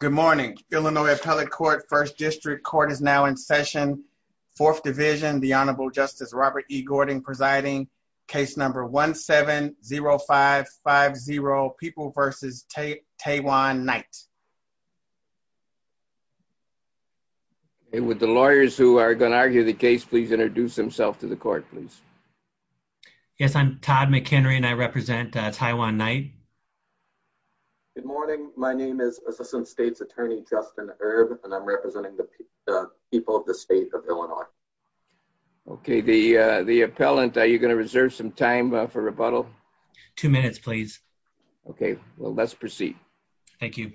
Good morning, Illinois Appellate Court, 1st District. Court is now in session, 4th Division, the Honorable Justice Robert E. Gordon presiding, case number 1-7-0550, People v. Taewon Knight. Would the lawyers who are going to argue the case please introduce themselves to the court, please? Yes, I'm Todd McHenry and I represent Taewon Knight. Good morning, my name is Assistant State's Attorney Justin Erb and I'm representing the people of the state of Illinois. Okay, the appellant, are you going to reserve some time for rebuttal? Two minutes please. Okay, well let's proceed. Thank you.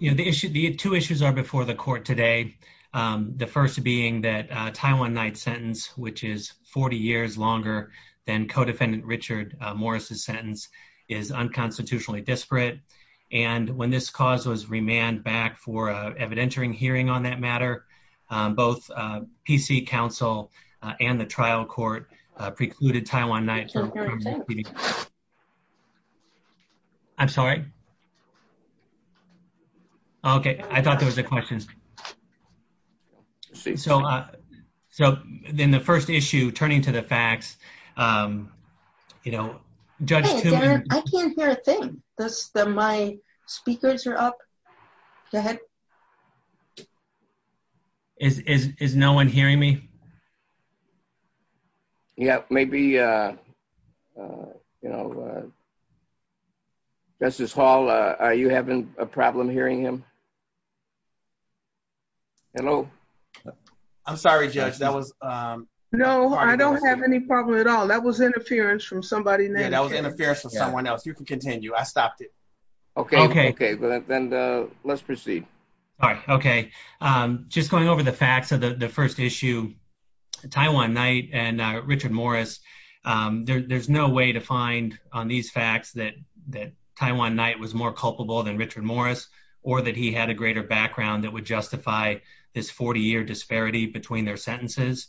The two issues are before the court today, the first being that Taewon Knight's sentence, which is 40 years longer than Co-Defendant Richard Morris' sentence, is unconstitutionally disparate and when this cause was remanded back for an evidentiary hearing on that matter, both PC Council and the trial court precluded Taewon Knight from repeating the sentence. I'm sorry? Okay, I thought there was a question. So, then the first issue, turning to the facts, you know, Judge Tewon- Hey, Darren, I can't hear a thing. My speakers are up. Go ahead. Is no one hearing me? Yeah, maybe, you know, Justice Hall, are you having a problem hearing him? Hello? I'm sorry, Judge, that was- No, I don't have any problem at all. That was interference from somebody. Yeah, that was interference from someone else. You can continue. I stopped it. Okay, okay. Okay, then let's proceed. All right, okay. Just going over the facts of the first issue, Taewon Knight and Richard Morris, there's no way to find on these facts that Taewon Knight was more culpable than Richard Morris or that he had a greater background that would justify this 40-year disparity between their sentences.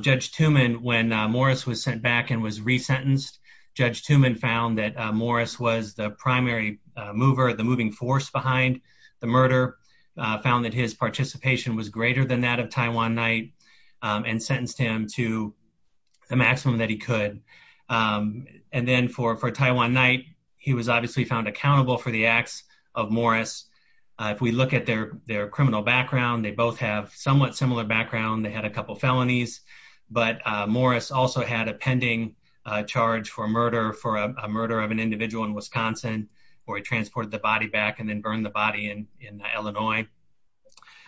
Judge Tewman, when Morris was sent back and was resentenced, Judge Tewman found that Morris was the primary mover, the moving force behind the murder, found that his participation was greater than that of Taewon Knight and sentenced him to the maximum that he could. And then for Taewon Knight, he was obviously found accountable for the acts of Morris. If we look at their criminal background, they both have somewhat similar background. They had a couple felonies, but Morris also had a pending charge for murder, for a murder of an individual in Wisconsin, where he transported the body back and then burned the body in Illinois.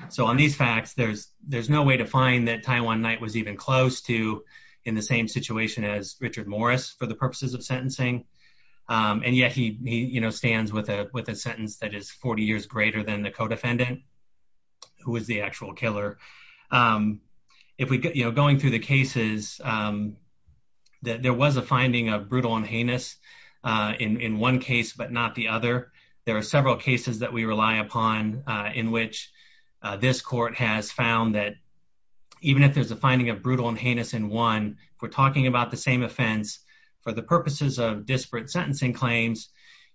So on these facts, there's no way to find that Taewon Knight was even close to, in the same situation as Richard Morris for the purposes of sentencing. And yet he stands with a sentence that is 40 years greater than the co-defendant, who was the actual killer. Going through the cases, there was a finding of brutal and heinous in one case, but not the other. There are several cases that we rely upon in which this court has found that even if there's a finding of brutal and heinous in one, if we're talking about the same offense, for the purposes of disparate sentencing claims,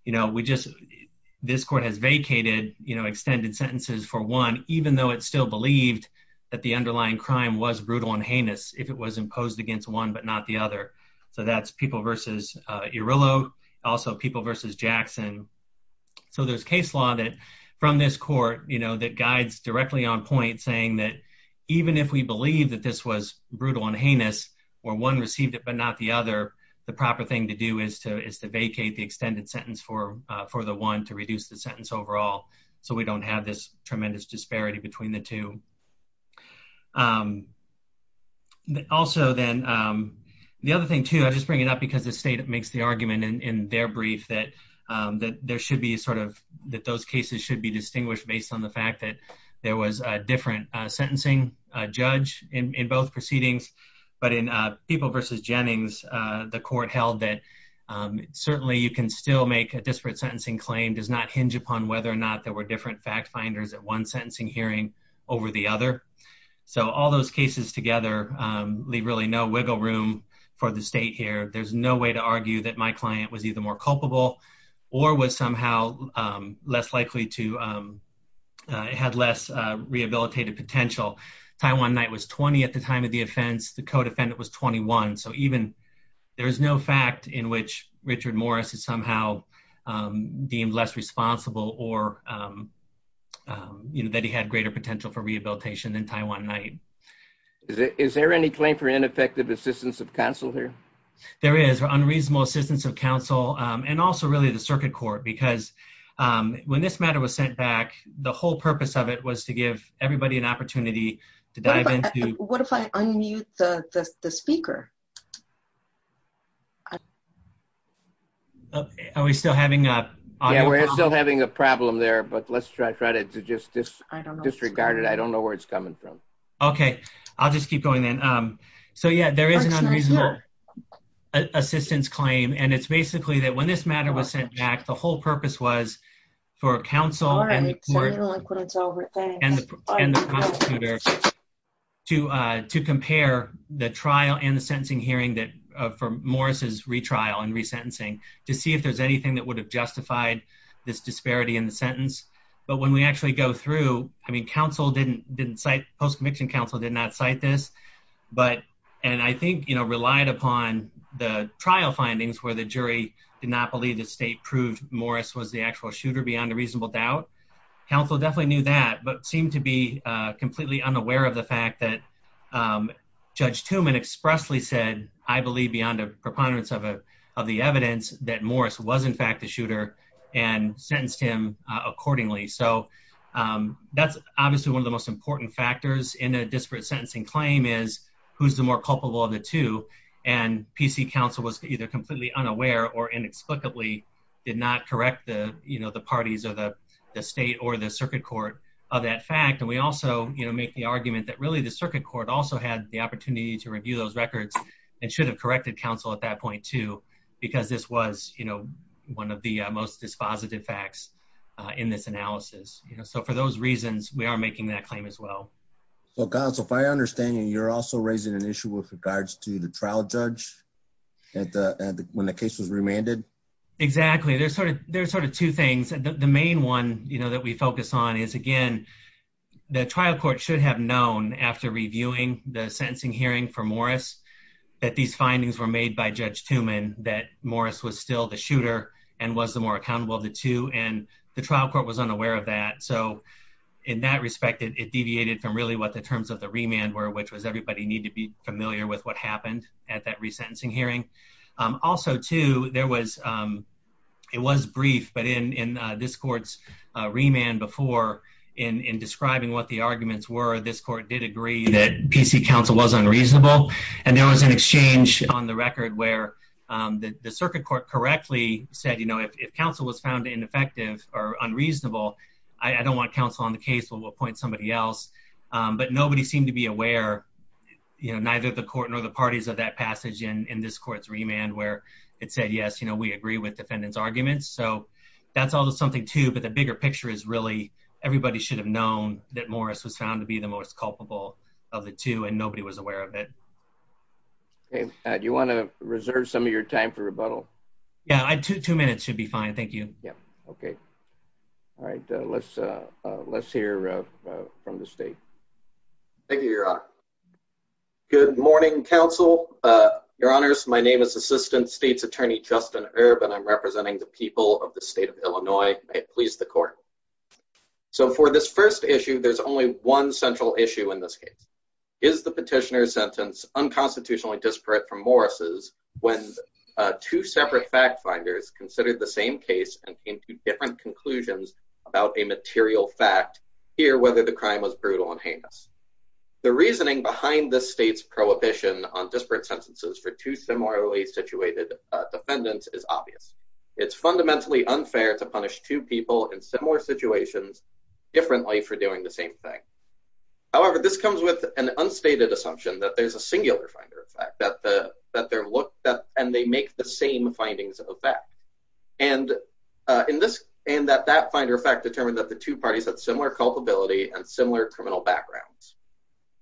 this court has vacated extended sentences for one, even though it still believed that the underlying crime was brutal and heinous if it was imposed against one, but not the other. So that's People v. Irillo, also People v. Jackson. So there's case law from this court that guides directly on point, saying that even if we believe that this was brutal and heinous, where one received it but not the other, the proper thing to do is to vacate the extended sentence for the one to reduce the sentence overall so we don't have this tremendous disparity between the two. Also then, the other thing too, I just bring it up because the state makes the argument in their brief that there should be sort of, that those cases should be distinguished based on the fact that there was a different sentencing judge in both proceedings. But in People v. Jennings, the court held that certainly you can still make a disparate sentencing claim, does not hinge upon whether or not there were different fact finders at one sentencing hearing over the other. So all those cases together leave really no wiggle room for the state here. There's no way to argue that my client was either more culpable or was somehow less likely to, had less rehabilitative potential. Taiwan Knight was 20 at the time of the offense, the co-defendant was 21. So even, there's no fact in which Richard Morris is somehow deemed less responsible or that he had greater potential for rehabilitation than Taiwan Knight. Is there any claim for ineffective assistance of counsel here? There is, unreasonable assistance of counsel and also really the circuit court. Because when this matter was sent back, the whole purpose of it was to give everybody an opportunity to dive into- What if I unmute the speaker? Are we still having a- Yeah, we're still having a problem there, but let's try to just disregard it. I don't know where it's coming from. Okay. I'll just keep going then. So yeah, there is an unreasonable assistance claim. And it's basically that when this matter was sent back, the whole purpose was for counsel and the court and the prosecutor to compare the trial and the sentencing hearing for Morris's retrial and resentencing to see if there's anything that would have justified this disparity in the sentence. But when we actually go through, I mean, post-conviction counsel did not cite this, and I think relied upon the trial findings where the jury did not believe the state proved Morris was the actual shooter beyond a reasonable doubt. Counsel definitely knew that, but seemed to be completely unaware of the fact that Judge Tumman expressly said, I believe beyond a preponderance of the evidence that Morris was in fact the shooter and sentenced him accordingly. So that's obviously one of the most important factors in a disparate sentencing claim is who's the more culpable of the two. And PC counsel was either completely unaware or inexplicably did not correct the parties of the state or the circuit court of that fact. And we also make the argument that really the circuit court also had the opportunity to review those records and should have corrected counsel at that point too, because this was one of the most dispositive facts in this analysis. So for those reasons, we are making that claim as well. Well, counsel, if I understand you, you're also raising an issue with regards to the trial judge when the case was remanded? Exactly. There's sort of two things. The main one that we focus on is, again, the trial court should have known after reviewing the sentencing hearing for Morris that these findings were made by Judge Tumman, that Morris was still the shooter and was the more accountable of the two. And the trial court was unaware of that. So in that respect, it deviated from really what the terms of the remand were, which was everybody need to be familiar with what happened at that resentencing hearing. Also, too, there was it was brief, but in this court's remand before in describing what the arguments were, this court did agree that PC counsel was unreasonable. And there was an exchange on the record where the circuit court correctly said, you know, if counsel was found ineffective or unreasonable, I don't want counsel on the case. We'll appoint somebody else. But nobody seemed to be aware, you know, neither the court nor the parties of that passage in this court's remand where it said, yes, you know, we agree with defendants arguments. So that's all something, too. But the bigger picture is really everybody should have known that Morris was found to be the most culpable of the two and nobody was aware of it. Do you want to reserve some of your time for rebuttal? Yeah, two minutes should be fine. Thank you. Yeah. OK. All right. Let's let's hear from the state. Thank you, your honor. Good morning, counsel, your honors. My name is Assistant State's Attorney Justin Erb, and I'm representing the people of the state of Illinois. Please, the court. So for this first issue, there's only one central issue in this case is the petitioner's sentence unconstitutionally disparate from Morris's when two separate fact finders considered the same case and came to different conclusions about a material fact here, whether the crime was brutal and heinous. The reasoning behind the state's prohibition on disparate sentences for two similarly situated defendants is obvious. It's fundamentally unfair to punish two people in similar situations differently for doing the same thing. However, this comes with an unstated assumption that there's a singular finder effect, that the that there look that and they make the same findings of effect. And in this and that that finder effect determined that the two parties had similar culpability and similar criminal backgrounds.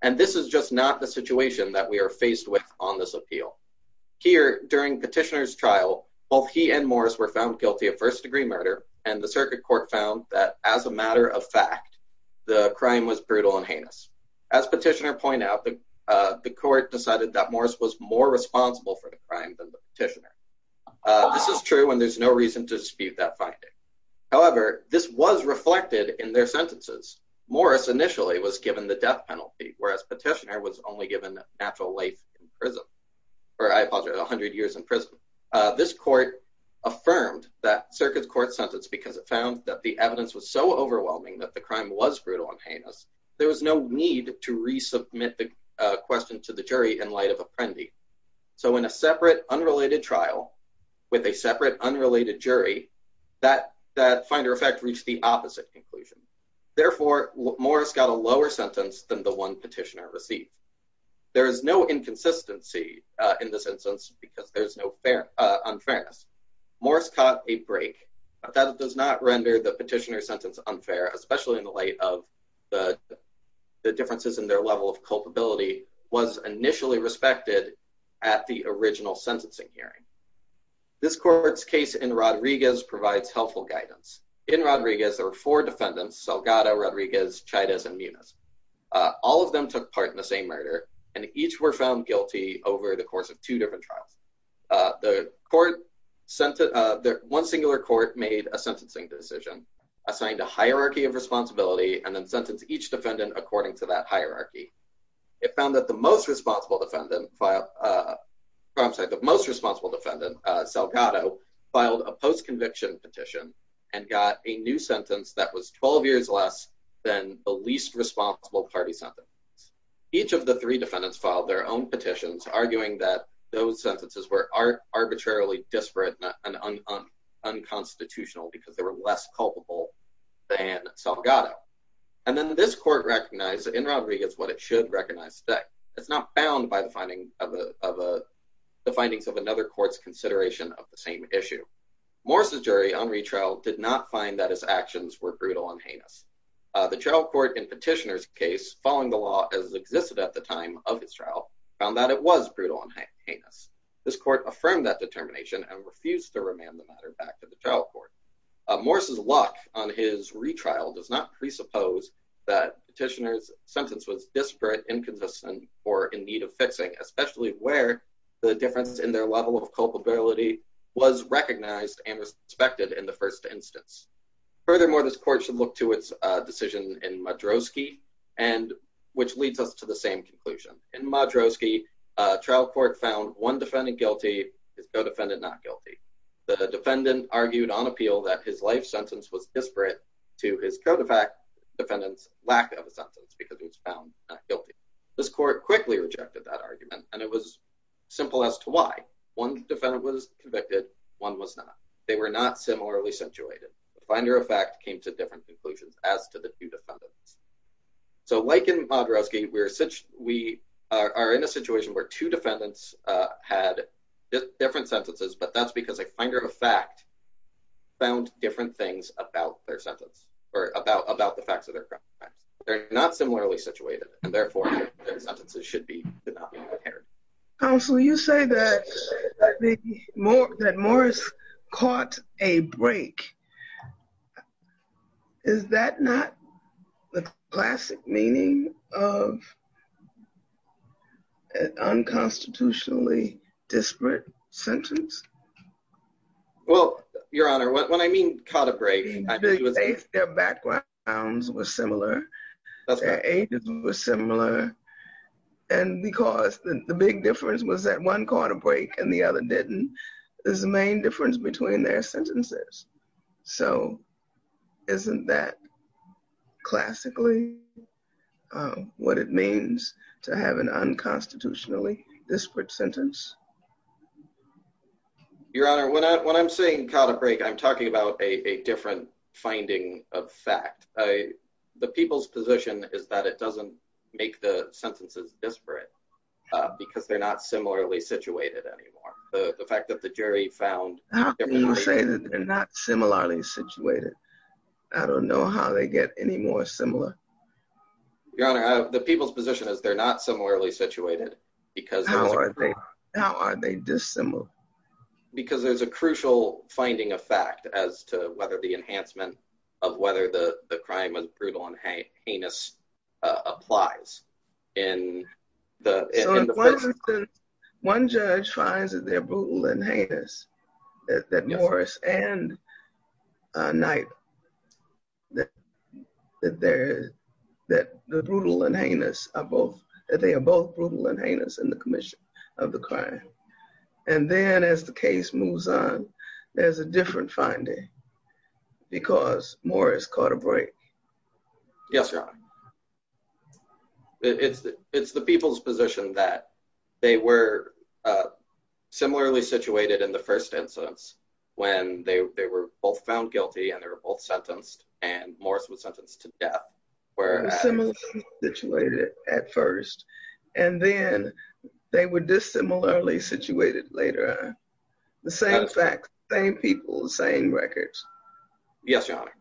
And this is just not the situation that we are faced with on this appeal here during petitioner's trial. Both he and Morris were found guilty of first degree murder. And the circuit court found that as a matter of fact, the crime was brutal and heinous. As petitioner point out, the court decided that Morris was more responsible for the crime than the petitioner. This is true and there's no reason to dispute that finding. However, this was reflected in their sentences. Morris initially was given the death penalty, whereas petitioner was only given natural life in prison, or I apologize, 100 years in prison. This court affirmed that circuit court sentence because it found that the evidence was so overwhelming that the crime was brutal and heinous. There was no need to resubmit the question to the jury in light of Apprendi. So in a separate, unrelated trial with a separate, unrelated jury, that that finder effect reached the opposite conclusion. Therefore, Morris got a lower sentence than the one petitioner received. There is no inconsistency in this instance because there's no unfair unfairness. Morris caught a break that does not render the petitioner sentence unfair, especially in light of the differences in their level of culpability was initially respected at the original sentencing hearing. This court's case in Rodriguez provides helpful guidance in Rodriguez, there were four defendants, Salgado, Rodriguez, Chavez and Muniz. All of them took part in the same murder and each were found guilty over the course of two different trials. The court sent one singular court made a sentencing decision, assigned a hierarchy of responsibility and then sentenced each defendant according to that hierarchy. It found that the most responsible defendant file, I'm sorry, the most responsible defendant, Salgado, filed a post conviction petition and got a new sentence that was 12 years less than the least responsible party sentence. Each of the three defendants filed their own petitions, arguing that those sentences were arbitrarily disparate and unconstitutional because they were less culpable than Salgado. And then this court recognized in Rodriguez what it should recognize that it's not bound by the finding of the findings of another court's consideration of the same issue. Morris's jury on retrial did not find that his actions were brutal and heinous. The trial court in petitioner's case, following the law as existed at the time of his trial, found that it was brutal and heinous. This court affirmed that determination and refused to remand the matter back to the trial court. Morris's lock on his retrial does not presuppose that petitioner's sentence was disparate, inconsistent or in need of fixing, especially where the difference in their level of culpability was recognized and respected in the first instance. Furthermore, this court should look to its decision in Madrowski and which leads us to the one defendant guilty, his co-defendant not guilty. The defendant argued on appeal that his life sentence was disparate to his co-defendant's lack of a sentence because he was found not guilty. This court quickly rejected that argument. And it was simple as to why. One defendant was convicted, one was not. They were not similarly situated. The finder of fact came to different conclusions as to the two defendants. So like in Madrowski, we are in a situation where two defendants had different sentences, but that's because a finder of fact found different things about their sentence or about the facts of their crimes. They're not similarly situated and therefore their sentences should not be compared. Counsel, you say that Morris caught a break. Is that not the classic meaning of an unconstitutionally disparate sentence? Well, Your Honor, when I mean caught a break, I believe it was their backgrounds were similar. Their ages were similar. And because the big difference was that one caught a break and the other didn't, is the main difference between their sentences. So isn't that classically what it means to have an unconstitutionally disparate sentence? Your Honor, when I'm saying caught a break, I'm talking about a different finding of fact. The people's position is that it doesn't make the sentences disparate because they're not similarly situated anymore. The fact that the jury found... How can you say that they're not similarly situated? I don't know how they get any more similar. Your Honor, the people's position is they're not similarly situated because... How are they dissimilar? Because there's a crucial finding of fact as to whether the enhancement of whether the crime was brutal and heinous applies in the... One judge finds that they're brutal and heinous, that Morris and Knight, that they're that the brutal and heinous are both, that they are both brutal and heinous in the commission of the crime. And then as the case moves on, there's a different finding because Morris caught a break. Yes, Your Honor. It's the people's position that they were similarly situated in the first instance when they were both found guilty and they were both sentenced and Morris was sentenced to death. Were similarly situated at first and then they were dissimilarly situated later. The same fact, same people, same records. Yes, Your Honor.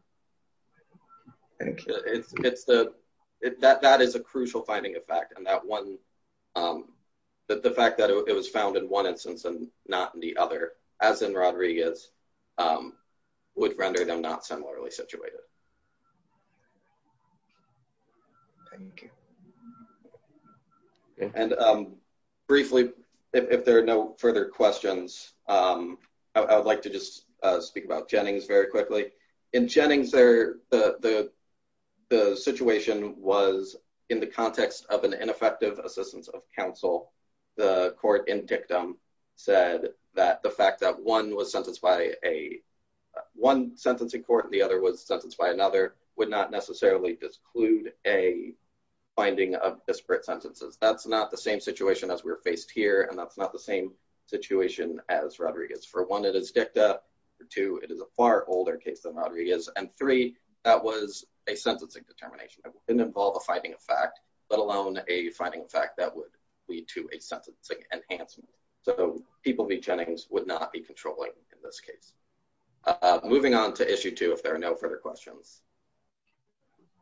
It's the, that is a crucial finding of fact. And that one, the fact that it was found in one instance and not in the other, as in Rodriguez, would render them not similarly situated. And briefly, if there are no further questions, I would like to just speak about Jennings very quickly. In Jennings, the situation was in the context of an ineffective assistance of counsel. The court in Dictum said that the fact that one was sentenced by a, one sentencing court and the other was sentenced by another would not necessarily disclude a finding of disparate sentences. That's not the same situation as we're faced here. And that's not the same situation as Rodriguez. For one, it is Dictum, for two, it is a far older case than Rodriguez, and three, that was a sentencing determination. It didn't involve a finding of fact, let alone a finding of fact that would lead to a sentencing enhancement. So people v. Jennings would not be controlling in this case. Moving on to issue two, if there are no further questions.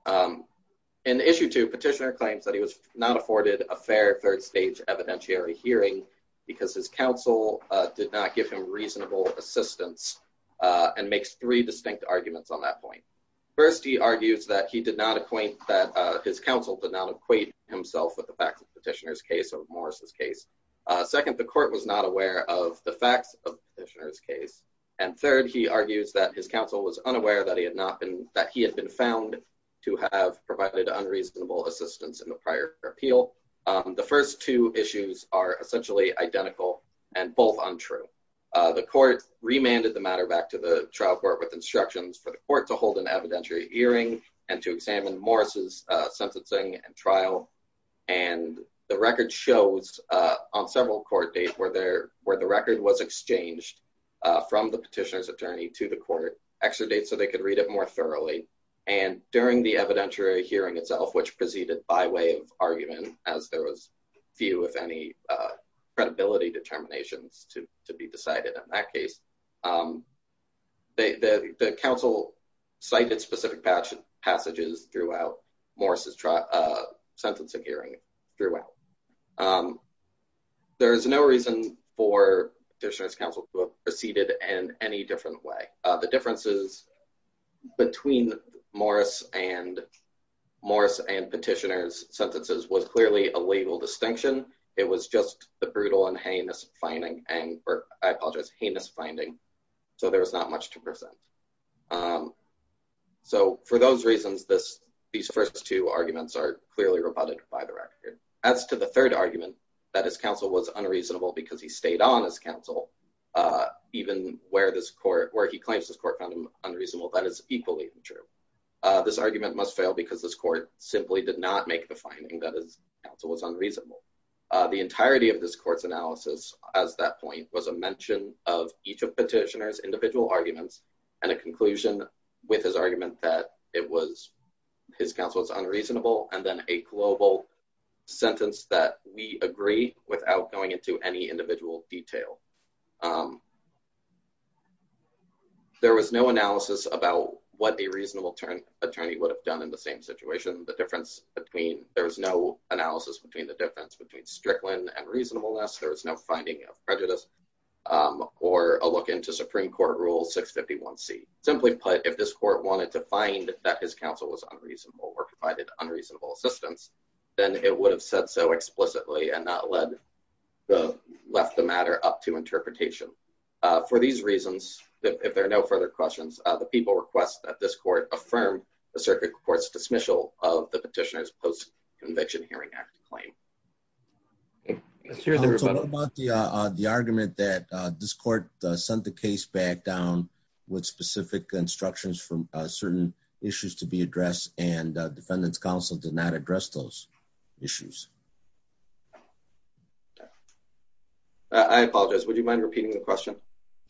In issue two, petitioner claims that he was not afforded a fair third stage evidentiary hearing because his counsel did not give him reasonable assistance and makes three distinct arguments on that point. First, he argues that he did not acquaint, that his counsel did not equate himself with the facts of the petitioner's case or Morris's case. Second, the court was not aware of the facts of the petitioner's case. And third, he argues that his counsel was unaware that he had not been, that he had been found to have provided unreasonable assistance in the prior appeal. The first two issues are essentially identical and both untrue. The court remanded the matter back to the trial court with instructions for the court to hold an evidentiary hearing and to examine Morris's sentencing and trial. And the record shows on several court dates where the record was exchanged from the petitioner's attorney to the court, extra dates so they could read it more thoroughly. And during the evidentiary hearing itself, which proceeded by way of argument, as there was few, if any, credibility determinations to be decided in that case, the counsel cited specific passages throughout Morris's sentencing hearing throughout. There is no reason for the petitioner's counsel to have proceeded in any different way. The differences between Morris and Petitioner's sentences was clearly a legal distinction. It was just the brutal and heinous finding. And I apologize, heinous finding. So there was not much to present. So for those reasons, these first two arguments are clearly rebutted by the record. As to the third argument, that his counsel was unreasonable because he stayed on as counsel, even where he claims his court found him unreasonable, that is equally true. This argument must fail because this court simply did not make the finding that his counsel was unreasonable. The entirety of this court's analysis as that point was a mention of each of Petitioner's individual arguments and a conclusion with his argument that his counsel was unreasonable, and then a global sentence that we agree without going into any individual detail. Um, there was no analysis about what a reasonable attorney would have done in the same situation. The difference between, there was no analysis between the difference between Strickland and reasonableness. There was no finding of prejudice or a look into Supreme Court Rule 651c. Simply put, if this court wanted to find that his counsel was unreasonable or provided unreasonable assistance, then it would have said so explicitly and not left the matter up to interpretation. For these reasons, if there are no further questions, the people request that this court affirm the Circuit Court's dismissal of the Petitioner's Post-Conviction Hearing Act claim. Let's hear the rebuttal. So what about the argument that this court sent the case back down with specific instructions for certain issues to be addressed and defendant's counsel did not address those issues? I apologize. Would you mind repeating the question?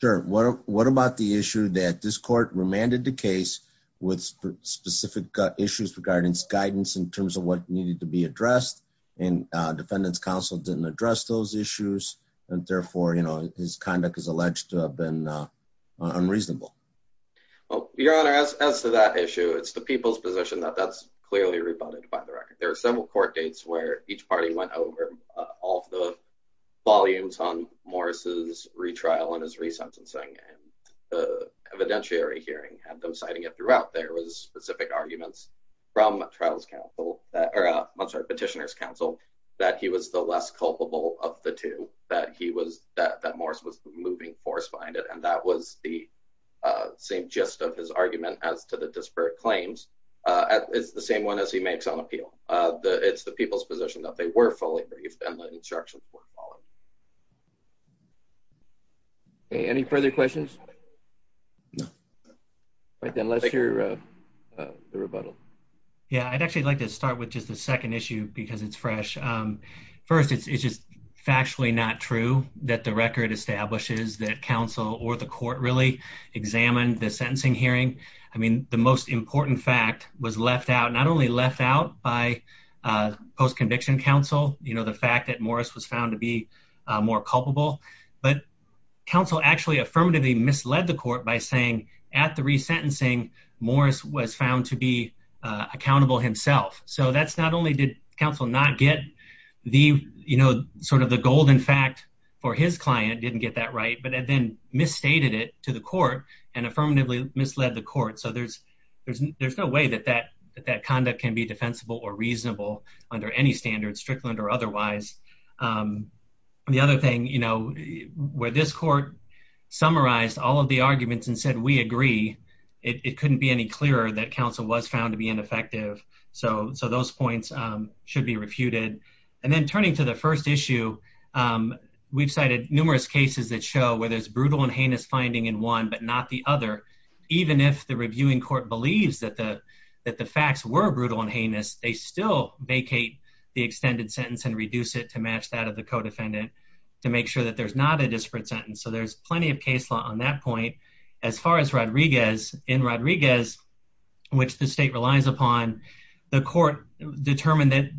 Sure. What about the issue that this court remanded the case with specific issues regarding its guidance in terms of what needed to be addressed and defendant's counsel didn't address those issues and therefore, you know, his conduct is alleged to have been unreasonable? Well, Your Honor, as to that issue, it's the people's position that that's clearly rebutted by the record. There are several court dates where each party went over all the volumes on Morris' retrial and his resentencing and the evidentiary hearing had them citing it throughout. There was specific arguments from Petitioner's counsel that he was the less culpable of the that he was that Morris was the moving force behind it. And that was the same gist of his argument as to the disparate claims. It's the same one as he makes on appeal. It's the people's position that they were fully briefed and the instructions were followed. Any further questions? No. Then let's hear the rebuttal. Yeah, I'd actually like to start with just the second issue because it's fresh. First, it's just factually not true that the record establishes that counsel or the court really examined the sentencing hearing. I mean, the most important fact was left out, not only left out by post-conviction counsel, you know, the fact that Morris was found to be more culpable, but counsel actually affirmatively misled the court by saying at the resentencing Morris was found to be accountable himself. So that's not only did counsel not get the, you know, sort of the golden fact for his client, didn't get that right, but then misstated it to the court and affirmatively misled the court. So there's no way that that conduct can be defensible or reasonable under any standards, Strickland or otherwise. The other thing, you know, where this court summarized all of the arguments and said, we agree, it couldn't be any clearer that counsel was found to be ineffective. So those points should be refuted. And then turning to the first issue, we've cited numerous cases that show where there's brutal and heinous finding in one, but not the other. Even if the reviewing court believes that the facts were brutal and heinous, they still vacate the extended sentence and reduce it to match that of the co-defendant to make sure that there's not a disparate sentence. So there's plenty of case law on that point. As far as Rodriguez, in Rodriguez, which the state relies upon, the court determined that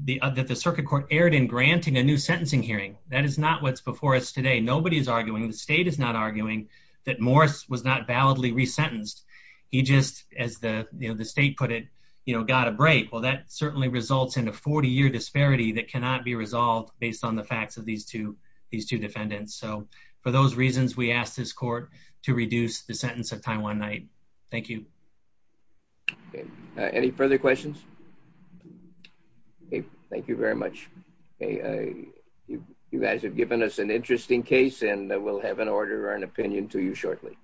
the circuit court erred in granting a new sentencing hearing. That is not what's before us today. Nobody's arguing, the state is not arguing that Morris was not validly resentenced. He just, as the state put it, you know, got a break. Well, that certainly results in a 40-year disparity that cannot be resolved based on the facts of these two defendants. So for those reasons, we asked this court to reduce the sentence of time one night. Thank you. Any further questions? Thank you very much. You guys have given us an interesting case and we'll have an order or an opinion to you shortly.